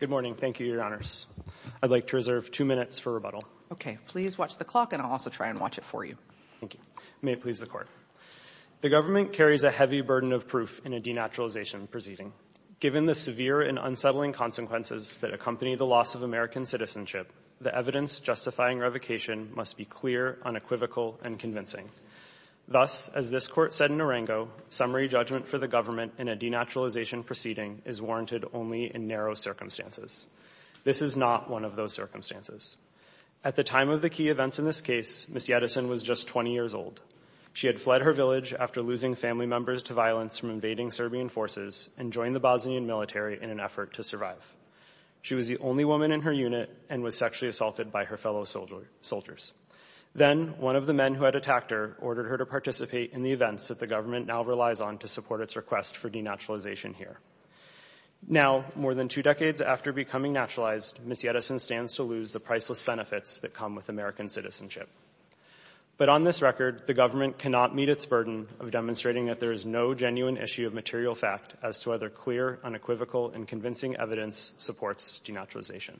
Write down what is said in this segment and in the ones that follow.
Good morning. Thank you, Your Honors. I'd like to reserve two minutes for rebuttal. Okay. Please watch the clock, and I'll also try and watch it for you. Thank you. May it please the Court. The government carries a heavy burden of proof in a denaturalization proceeding. Given the severe and unsettling consequences that accompany the loss of American citizenship, the evidence justifying revocation must be clear, unequivocal, and convincing. Thus, as this Court said in Arango, summary judgment for the government in a denaturalization is warranted only in narrow circumstances. This is not one of those circumstances. At the time of the key events in this case, Ms. Yetisen was just 20 years old. She had fled her village after losing family members to violence from invading Serbian forces and joined the Bosnian military in an effort to survive. She was the only woman in her unit and was sexually assaulted by her fellow soldiers. Then, one of the men who had attacked her ordered her to participate in the events that the government now relies on to support its request for denaturalization here. Now, more than two decades after becoming naturalized, Ms. Yetisen stands to lose the priceless benefits that come with American citizenship. But on this record, the government cannot meet its burden of demonstrating that there is no genuine issue of material fact as to whether clear, unequivocal, and convincing evidence supports denaturalization.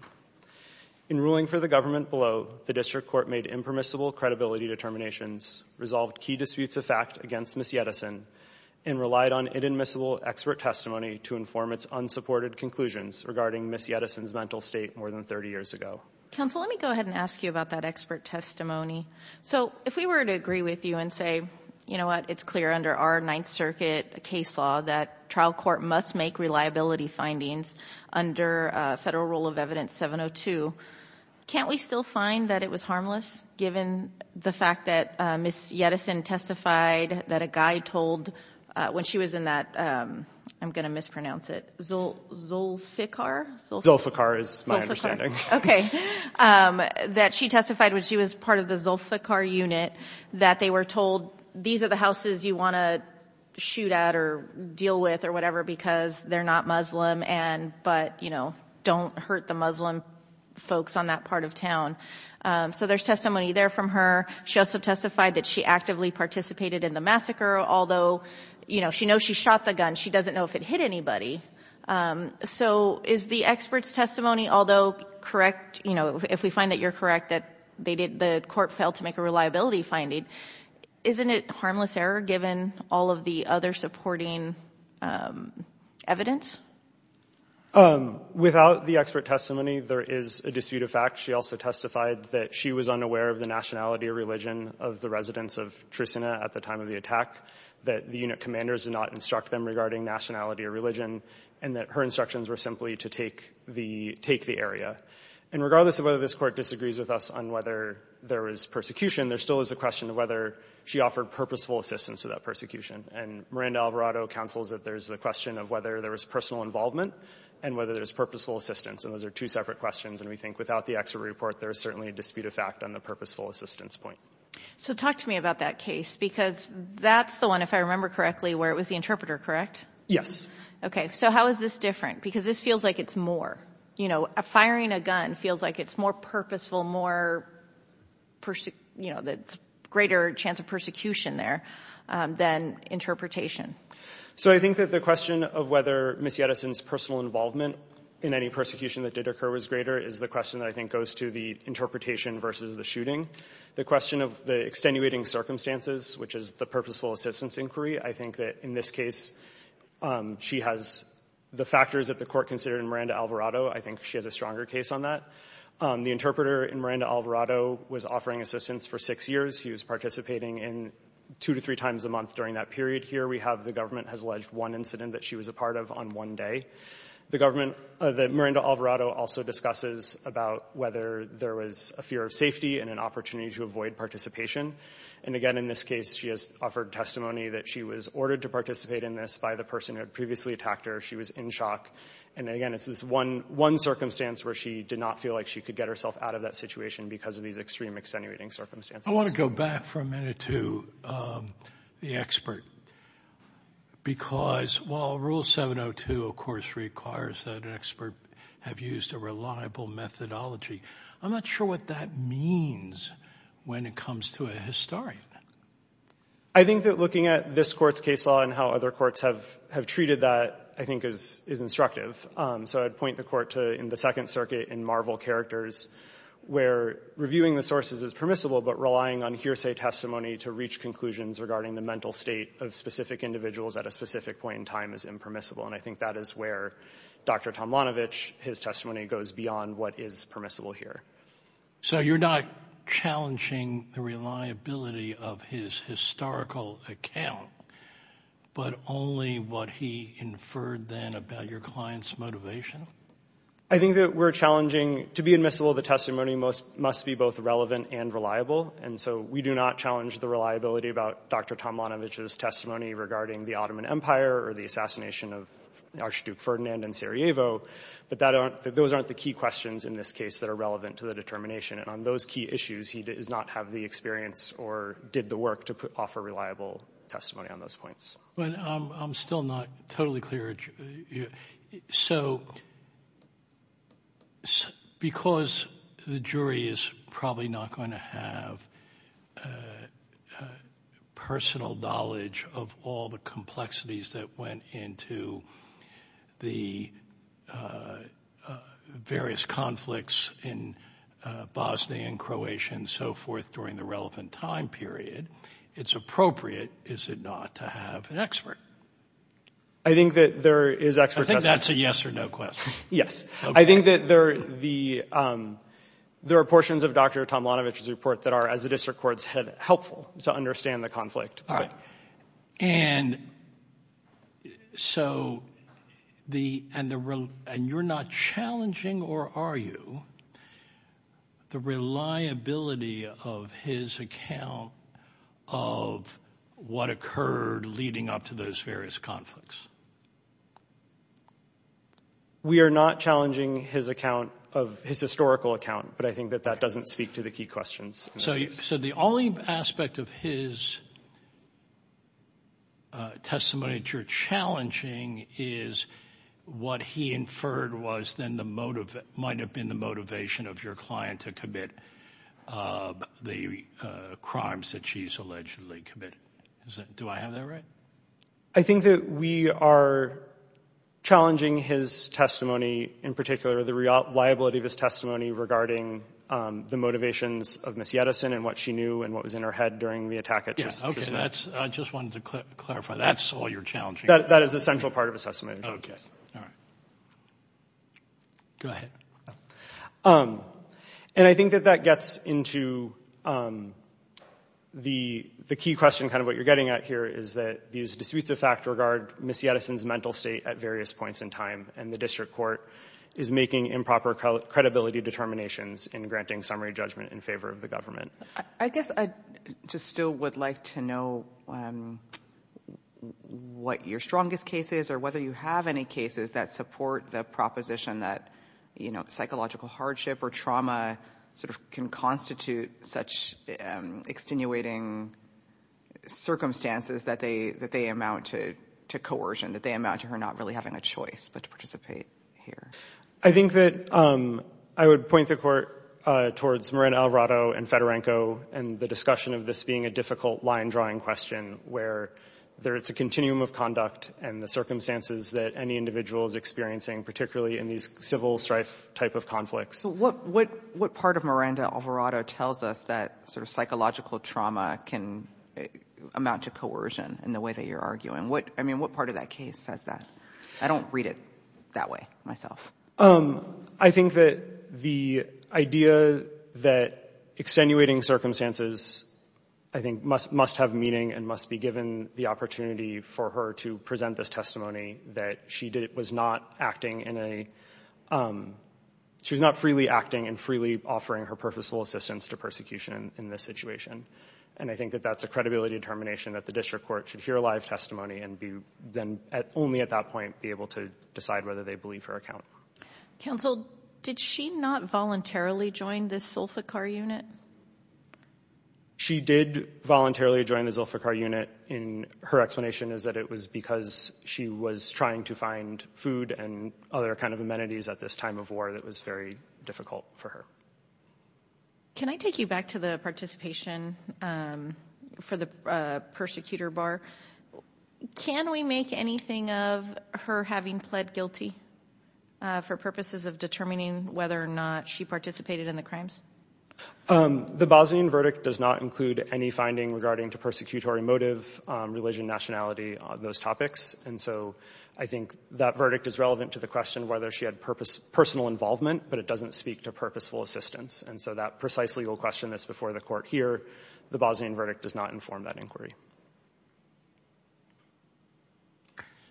In ruling for the government below, the District Court made impermissible credibility determinations, resolved key disputes of fact against Ms. Yetisen, and relied on inadmissible expert testimony to inform its unsupported conclusions regarding Ms. Yetisen's mental state more than 30 years ago. Counsel, let me go ahead and ask you about that expert testimony. So, if we were to agree with you and say, you know what, it's clear under our Ninth Circuit case law that trial court must make reliability findings under Federal Rule of Evidence 702, can't we still find that it was harmless given the fact that Ms. Yetisen testified that a guy told, when she was in that, I'm going to mispronounce it, Zulfiqar? Zulfiqar is my understanding. Okay. That she testified when she was part of the Zulfiqar unit that they were told, these are the houses you want to shoot at or deal with or whatever because they're not Muslim and, but, you know, don't hurt the Muslim folks on that part of town. So there's testimony there from her. She also testified that she actively participated in the massacre, although, you know, she knows she shot the gun. She doesn't know if it hit anybody. So is the expert's testimony, although correct, you know, if we find that you're correct, that they did, the court failed to make a reliability finding, isn't it harmless error given all of the other supporting evidence? Without the expert testimony, there is a dispute of fact. She also testified that she was unaware of the nationality or religion of the residents of Trusina at the time of the attack, that the unit commanders did not instruct them regarding nationality or religion and that her instructions were simply to take the area. And regardless of whether this court disagrees with us on whether there was persecution, there still is a question of whether she offered purposeful assistance to that persecution. And Miranda Alvarado counsels that there's the question of whether there was personal involvement and whether there's purposeful assistance. And those are two separate questions. And we think without the expert report, there is certainly a dispute of fact on the purposeful assistance point. So talk to me about that case, because that's the one, if I remember correctly, where it was the interpreter, correct? Yes. Okay. So how is this different? Because this feels like it's more, you know, firing a gun feels like it's more purposeful, more, you know, the greater chance of persecution there than interpretation. So I think that the question of whether Missy Edison's personal involvement in any persecution that did occur was greater is the question that I think goes to the interpretation versus the shooting. The question of the extenuating circumstances, which is the purposeful assistance inquiry, I think that in this case, she has the factors that the court considered in Miranda Alvarado. I think she has a stronger case on that. The interpreter in Miranda Alvarado was offering assistance for six years. He was participating in two to three times a month during that period. Here we have the government has alleged one incident that she was a part of on one day. The government, the Miranda Alvarado also discusses about whether there was a fear of safety and an opportunity to avoid participation. And again, in this case, she has offered testimony that she was ordered to participate in this by the person who had previously attacked her. She was in shock. And again, it's this one circumstance where she did not feel like she could get herself out of that situation because of these extreme extenuating circumstances. I want to go back for a minute to the expert, because while Rule 702, of course, requires that an expert have used a reliable methodology, I'm not sure what that means when it comes to a historian. I think that looking at this Court's case law and how other courts have treated that, I think, is instructive. So I'd point the Court to in the Second Circuit in Marvel Characters where reviewing the sources is permissible, but relying on hearsay testimony to reach conclusions regarding the mental state of specific individuals at a specific point in time is impermissible. And I think that is where Dr. Tomlanovich, his testimony goes beyond what is permissible here. So you're not challenging the reliability of his historical account, but only what he inferred then about your client's motivation? I think that we're challenging, to be admissible, the testimony must be both relevant and reliable. And so we do not challenge the reliability about Dr. Tomlanovich's testimony regarding the Ottoman Empire or the assassination of Archduke Ferdinand and Sarajevo, but those aren't the key questions in this case that are relevant to the determination. And on those key issues, he does not have the experience or did the work to offer reliable testimony on those points. But I'm still not totally clear. So because the jury is probably not going to have personal knowledge of all the complexities that went into the various conflicts in Bosnia and Croatia and so forth during the relevant time period, it's appropriate, is it not, to have an expert? I think that there is an expert question. I think that's a yes or no question. Yes. I think that there are portions of Dr. Tomlanovich's report that are as helpful to understand the conflict. And you're not challenging, or are you, the reliability of his account of what occurred leading up to those various conflicts? We are not challenging his account, his historical account, but I think that that doesn't speak to the key questions. So the only aspect of his testimony that you're challenging is what he inferred was then the motive, might have been the motivation of your client to commit the crimes that she's allegedly committed. Do I have that right? I think that we are challenging his testimony in particular, the reliability of his testimony regarding the motivations of Ms. Yedison and what she knew and what was in her head during the attack. I just wanted to clarify, that's all you're challenging? That is the central part of his testimony. Go ahead. And I think that that gets into the key question, kind of what you're getting at here, is that these disputes of fact regard Ms. Yedison's mental state at various points in time, and the district court is making improper credibility determinations in granting summary judgment in favor of the government. I guess I just still would like to know what your strongest case is or whether you have any cases that support the proposition that psychological hardship or trauma sort of can constitute such extenuating circumstances that they amount to coercion, that they amount to her not really having a choice but to participate here. I think that I would point the court towards Miranda Alvarado and Fedorenko and the discussion of this being a difficult line drawing question, where it's a continuum of conduct and the circumstances that any individual is experiencing, particularly in these civil strife type of conflicts. What part of Miranda Alvarado tells us that sort of psychological trauma can amount to coercion in the way that you're arguing? I mean, what part of that case says that? I don't read it that way myself. I think that the idea that extenuating circumstances, I think, must have meaning and must be given the opportunity for her to present this testimony, that she was not acting in a — she was not freely acting and freely offering her purposeful assistance to persecution in this situation, and I think that that's a credibility determination that the district court should hear live testimony and then only at that point be able to decide whether they believe her account. Counsel, did she not voluntarily join the Zulfiqar unit? She did voluntarily join the Zulfiqar unit. And her explanation is that it was because she was trying to find food and other kind of amenities at this time of war that was very difficult for her. Can I take you back to the participation for the persecutor bar? Can we make anything of her having pled guilty for purposes of determining whether or not she participated in the crimes? The Bosnian verdict does not include any finding regarding to persecutory motive, religion, nationality, those topics. And so I think that verdict is relevant to the question whether she had personal involvement, but it doesn't speak to purposeful assistance. And so that precise legal question is before the court here. The Bosnian verdict does not inform that inquiry.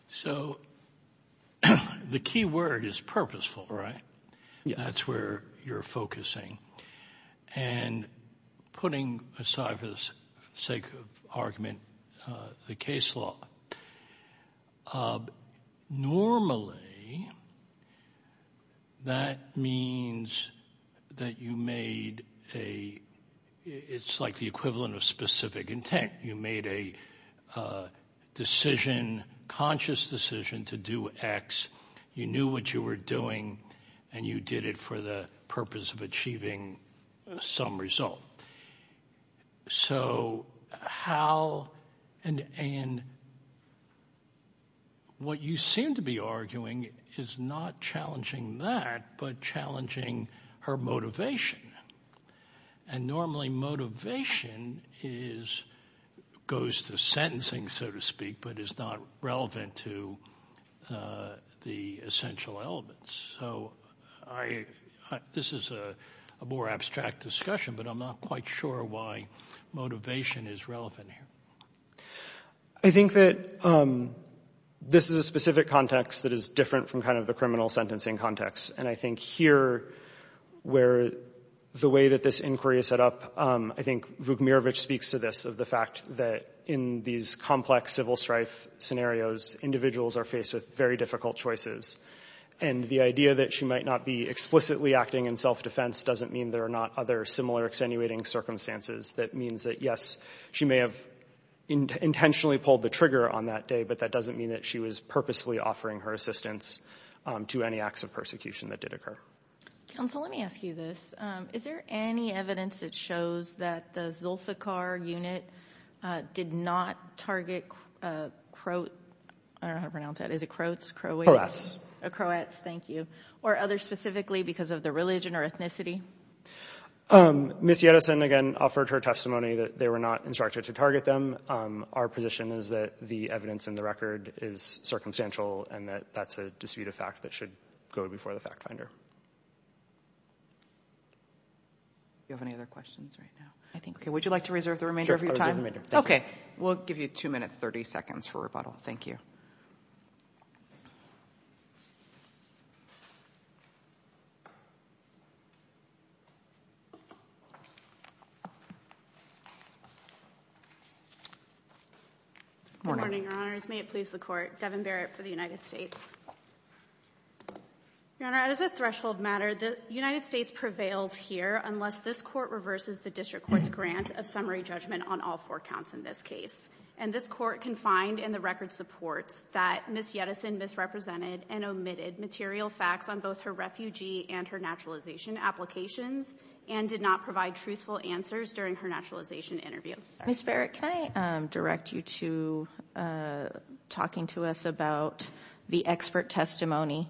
So the key word is purposeful, right? Yes. That's where you're focusing. And putting aside for the sake of argument, the case law. Normally, that means that you made a, it's like the equivalent of specific intent. You made a decision, conscious decision to do X. You knew what you were doing and you did it for the purpose of achieving some result. So how, and what you seem to be arguing is not challenging that, but challenging her motivation. And normally motivation is, goes to sentencing, so to speak, but is not relevant to the essential elements. So this is a more abstract discussion, but I'm not quite sure why motivation is relevant here. I think that this is a specific context that is different from kind of the criminal sentencing context. And I think here, where the way that this inquiry is set up, I think Vukmirovic speaks to this, of the fact that in these complex civil strife scenarios, individuals are faced with very difficult choices. And the idea that she might not be explicitly acting in self-defense doesn't mean there are not other similar extenuating circumstances. That means that, yes, she may have intentionally pulled the trigger on that day, but that doesn't mean that she was purposefully offering her assistance to any acts of persecution that did occur. Counsel, let me ask you this. Is there any evidence that shows that the Zulfiqar unit did not target, I don't know how to pronounce that, is it Croats, Croats? Croats, thank you. Or others specifically because of their religion or ethnicity? Ms. Yedison, again, offered her testimony that they were not instructed to target them. Our position is that the evidence in the record is circumstantial and that that's a dispute of fact that should go before the fact finder. Do you have any other questions right now? I think, okay, would you like to reserve the remainder of your time? Okay, we'll give you two minutes, 30 seconds for rebuttal. Thank you. Good morning, Your Honors. May it please the Court. Devin Barrett for the United States. Your Honor, as a threshold matter, the United States prevails here unless this Court reverses the District Court's grant of summary judgment on all four counts in this case. And this Court can find in the record supports that Ms. Yedison misrepresented and omitted material facts on both her refugee and her naturalization applications and did not provide truthful answers during her naturalization interview. Ms. Barrett, can I direct you to talking to us about the expert testimony?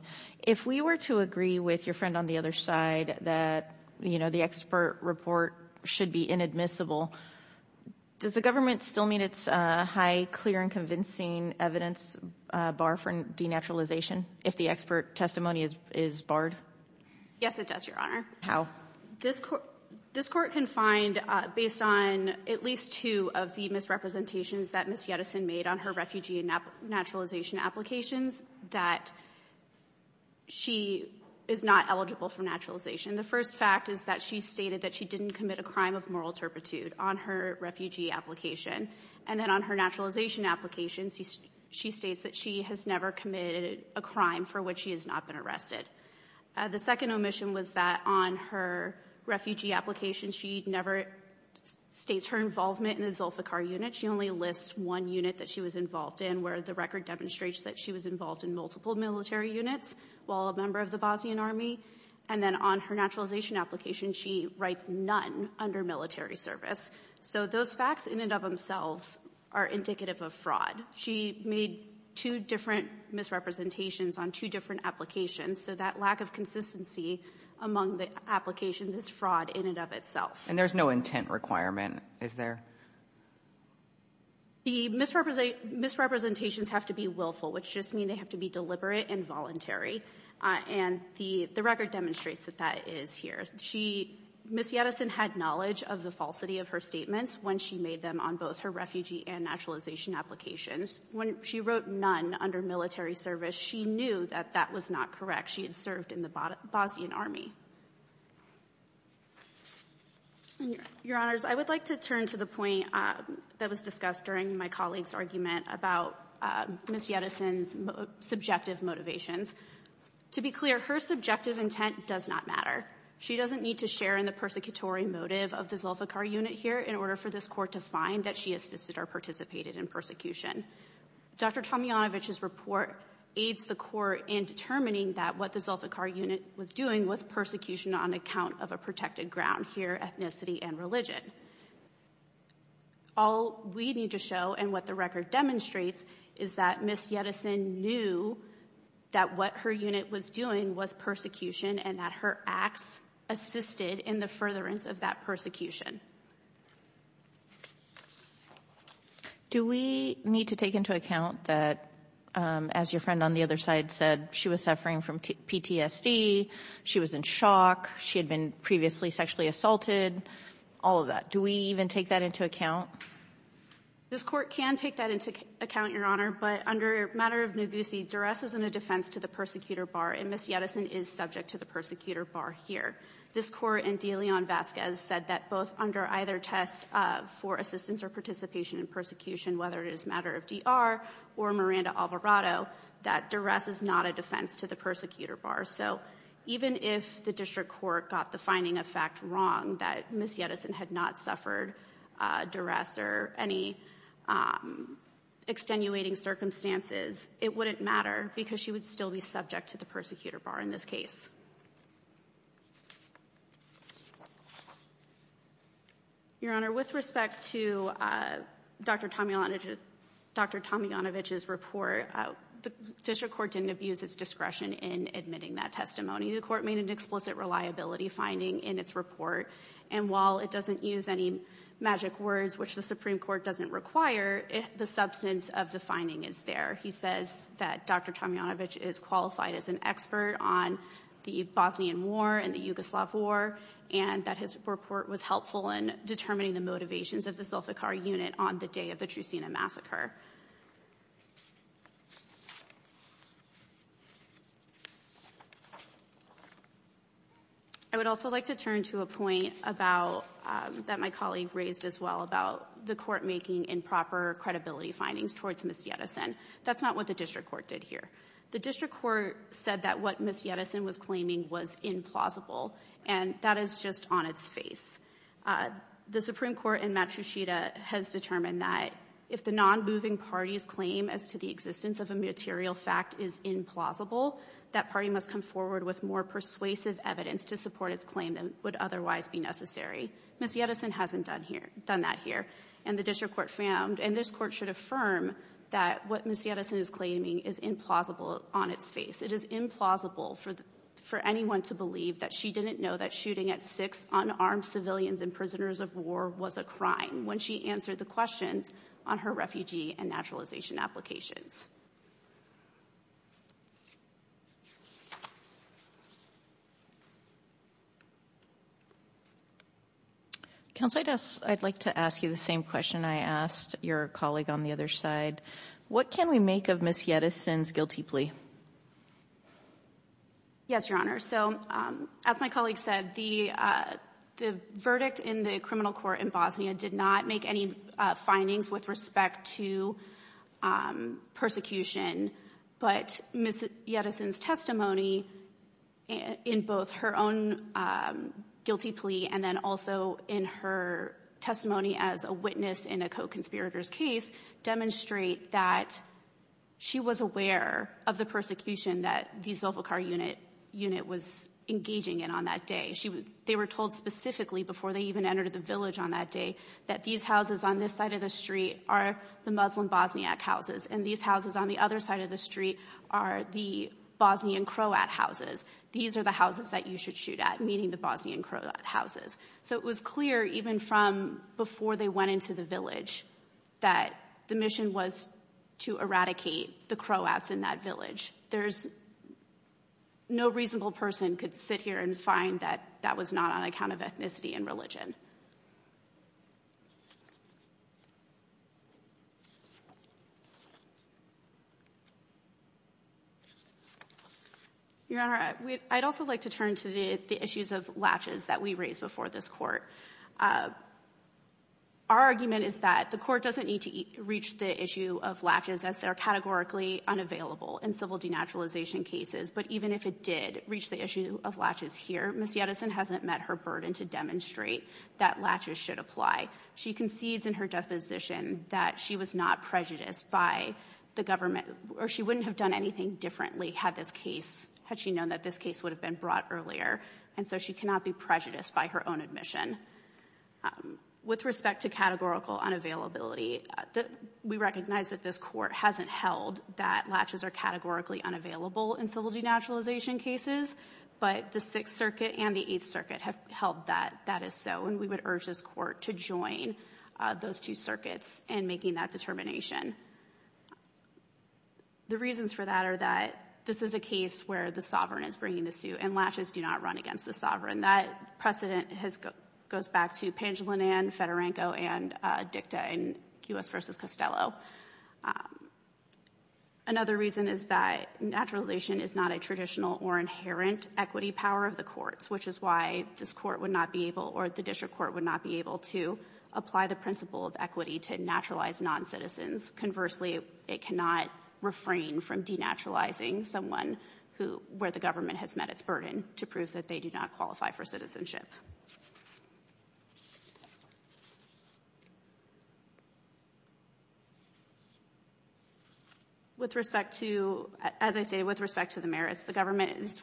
If we were to agree with your friend on the other side that, you know, the expert report should be inadmissible, does the government still mean it's a high, clear, and convincing evidence bar for denaturalization if the expert testimony is barred? Yes, it does, Your Honor. How? This Court can find, based on at least two of the misrepresentations that Ms. Yedison made on her refugee and naturalization applications, that she is not eligible for naturalization. The first fact is that she stated that she didn't commit a crime of moral turpitude on her refugee application. And then on her naturalization application, she states that she has never committed a crime for which she has not been arrested. The second omission was that on her refugee application, she never states her involvement in the Zulfiqar unit. She only lists one unit that she was involved in where the record demonstrates that she was involved in multiple military units while a member of the Bosnian army. And then on her naturalization application, she writes none under military service. So those facts in and of themselves are indicative of fraud. She made two different misrepresentations on two different applications. So that lack of consistency among the applications is fraud in and of itself. And there's no intent requirement, is there? The misrepresentations have to be willful, which just means they have to be deliberate and voluntary. And the record demonstrates that that is here. Ms. Yedison had knowledge of the falsity of her statements when she made them on both her refugee and naturalization applications. When she wrote none under military service, she knew that that was not correct. She had served in the Bosnian army. Your Honors, I would like to turn to the point that was discussed during my colleague's argument about Ms. Yedison's subjective motivations. To be clear, her subjective intent does not matter. She doesn't need to share in the persecutory motive of the Zulfiqar unit here in order for this court to find that she assisted or participated in persecution. Dr. Tomjanovich's report aids the court in determining that what the Zulfiqar unit was doing was persecution on account of a protected ground here, ethnicity and religion. All we need to show and what the record demonstrates is that Ms. Yedison knew that what her unit was doing was persecution and that her acts assisted in the furtherance of that persecution. Do we need to take into account that, as your friend on the other side said, she was suffering from PTSD, she was in shock, she had been previously sexually assaulted, all of that? Do we even take that into account? This Court can take that into account, Your Honor, but under a matter of negusi, duress isn't a defense to the persecutor bar, and Ms. Yedison is subject to the persecutor bar here. This Court in De Leon-Vasquez said that both under either test for assistance or participation in persecution, whether it is a matter of DR or Miranda-Alvarado, that duress is not a defense to the persecutor bar. So even if the district court got the finding of fact wrong that Ms. Yedison had not suffered duress or any extenuating circumstances, it wouldn't matter because she would still be subject to the persecutor bar in this case. Your Honor, with respect to Dr. Tomjanovich's report, the district court didn't abuse its discretion in admitting that testimony. The court made an explicit reliability finding in its report, and while it doesn't use any magic words, which the Supreme Court doesn't require, the substance of the finding is there. He says that Dr. Tomjanovich is qualified as an expert on the Bosnian War and the Yugoslav War, and that his report was helpful in determining the motivations of the Sofikar unit on the day of the Trusina massacre. I would also like to turn to a point about, that my colleague raised as well, about the court making improper credibility findings towards Ms. Yedison. That's not what the district court did here. The district court said that what Ms. Yedison was claiming was implausible, and that is just on its face. The Supreme Court in Matrusita has determined that if the non-moving party's claim as to the existence of a material fact is implausible, that party must come forward with more persuasive evidence to support its claim than would otherwise be necessary. Ms. Yedison hasn't done that here, and the district court found, and this court should affirm, that what Ms. Yedison is claiming is implausible on its face. It is implausible for anyone to believe that she didn't know that shooting at six unarmed civilians and prisoners of war was a crime when she answered the questions on her refugee and naturalization applications. Counsel, I'd like to ask you the same question I asked your colleague on the other side. What can we make of Ms. Yedison's guilty plea? Yes, Your Honor. So, as my colleague said, the verdict in the criminal court in Bosnia did not make any findings with respect to persecution of civilians. But Ms. Yedison's testimony in both her own guilty plea and then also in her testimony as a witness in a co-conspirator's case demonstrate that she was aware of the persecution that the Zofikar unit was engaging in on that day. They were told specifically before they even entered the village on that day that these houses on this side of the street are the Muslim Bosniak houses, and these houses on the other side of the street are the Bosnian Croat houses. These are the houses that you should shoot at, meaning the Bosnian Croat houses. So it was clear even from before they went into the village that the mission was to eradicate the Croats in that village. There's no reasonable person could sit here and find that that was not on account of ethnicity and religion. Your Honor, I'd also like to turn to the issues of latches that we raised before this Our argument is that the court doesn't need to reach the issue of latches as they're categorically unavailable in civil denaturalization cases. But even if it did reach the issue of latches here, Ms. Yedison hasn't met her burden to demonstrate that latches should apply. She concedes in her deposition that she was not prejudiced by the government's or she wouldn't have done anything differently had this case, had she known that this case would have been brought earlier. And so she cannot be prejudiced by her own admission. With respect to categorical unavailability, we recognize that this court hasn't held that latches are categorically unavailable in civil denaturalization cases. But the Sixth Circuit and the Eighth Circuit have held that that is so. And we would urge this court to join those two circuits in making that determination. The reasons for that are that this is a case where the sovereign is bringing the suit, and latches do not run against the sovereign. That precedent goes back to Pangilinan, Federanco, and Dicta in U.S. v. Costello. Another reason is that naturalization is not a traditional or inherent equity power of the courts, which is why this court would not be able or the district court would not be able to apply the principle of equity to naturalized noncitizens. Conversely, it cannot refrain from denaturalizing someone who, where the government has met its burden to prove that they do not qualify for citizenship. With respect to, as I say, with respect to the merits, the government is,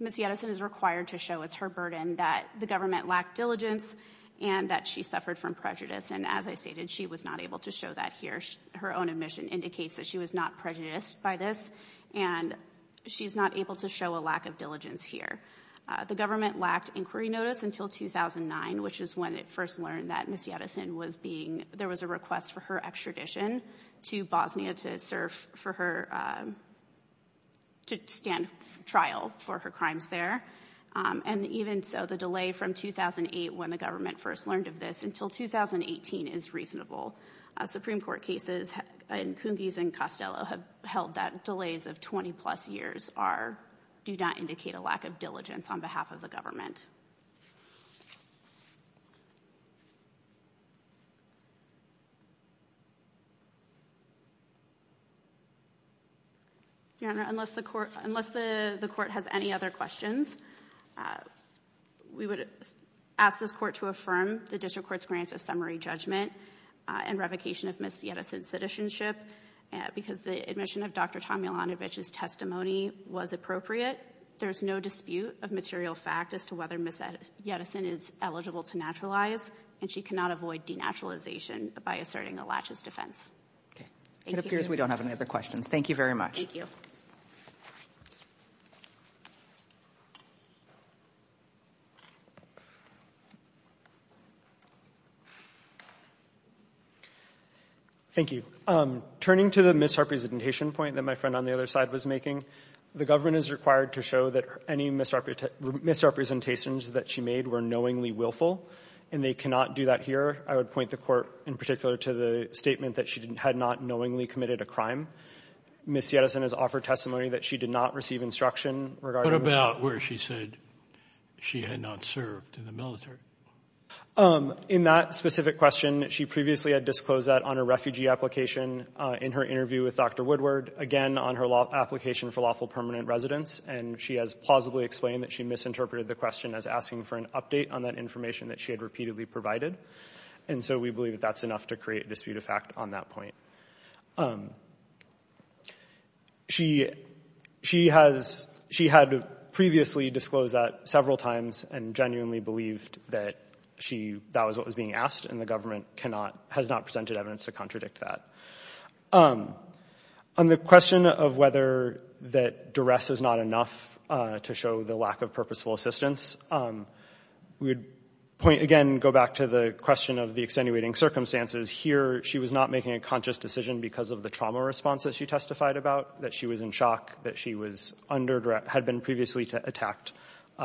Ms. Yedison is required to show it's her burden that the government lacked diligence and that she suffered from prejudice. As I stated, she was not able to show that here. Her own admission indicates that she was not prejudiced by this, and she's not able to show a lack of diligence here. The government lacked inquiry notice until 2009, which is when it first learned that Ms. Yedison was being, there was a request for her extradition to Bosnia to serve for her, to stand trial for her crimes there. And even so, the delay from 2008 when the government first learned of this until 2018 is reasonable. Supreme Court cases in Cungiz and Costello have held that delays of 20 plus years are, do not indicate a lack of diligence on behalf of the government. Your Honor, unless the court, unless the court has any other questions, we would ask this court to affirm the district court's grant of summary judgment and revocation of Ms. Yedison's citizenship because the admission of Dr. Tom Milanovich's testimony was appropriate. There's no dispute of material fact as to whether Ms. Yedison is eligible to naturalize, and she cannot avoid denaturalization by asserting a laches defense. Okay. It appears we don't have any other questions. Thank you very much. Thank you. Thank you. Turning to the misrepresentation point that my friend on the other side was making, the government is required to show that any misrepresentations that she made were knowingly willful, and they cannot do that here. I would point the court in particular to the statement that she had not knowingly committed a crime. Ms. Yedison has offered testimony that she did not receive instruction regarding... What about where she said she had not served in the military? In that specific question, she previously had disclosed that on a refugee application in her interview with Dr. Woodward, again, on her application for lawful permanent residence, and she has plausibly explained that she misinterpreted the question as asking for an update on that information that she had repeatedly provided, and so we believe that that's enough to create dispute of fact on that point. She had previously disclosed that several times and genuinely believed that that was what was being asked, and the government has not presented evidence to contradict that. On the question of whether that duress is not enough to show the lack of purposeful assistance, we would, again, go back to the question of the extenuating circumstances. Here, she was not making a conscious decision because of the trauma response that she testified about, that she was in shock, that she had been previously attacked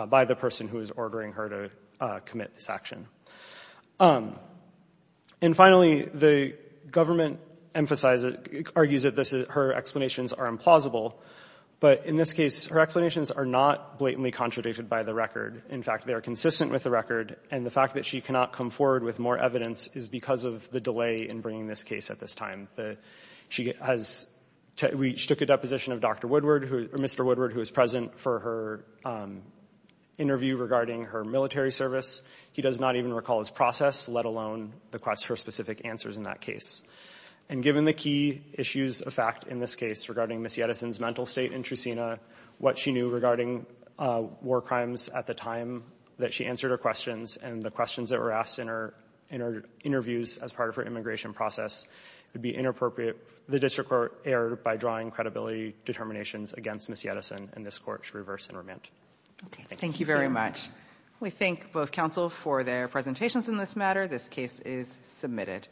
by the person who was ordering her to commit this action. And finally, the government argues that her explanations are implausible, but in this case, her explanations are not blatantly contradicted by the record. In fact, they are consistent with the record, and the fact that she cannot come forward with more evidence is because of the delay in bringing this case at this time. We took a deposition of Mr. Woodward, who was present for her interview regarding her military service. He does not even recall his process, let alone her specific answers in that case. And given the key issues of fact in this case regarding Ms. Yedison's mental state in Trusina, what she knew regarding war crimes at the time that she answered her questions and the questions that were asked in her interviews as part of her immigration process, it would be inappropriate for the district court error by drawing credibility determinations against Ms. Yedison, and this court should reverse and remand. Okay. Thank you very much. We thank both counsels for their presentations in this matter. This case is submitted.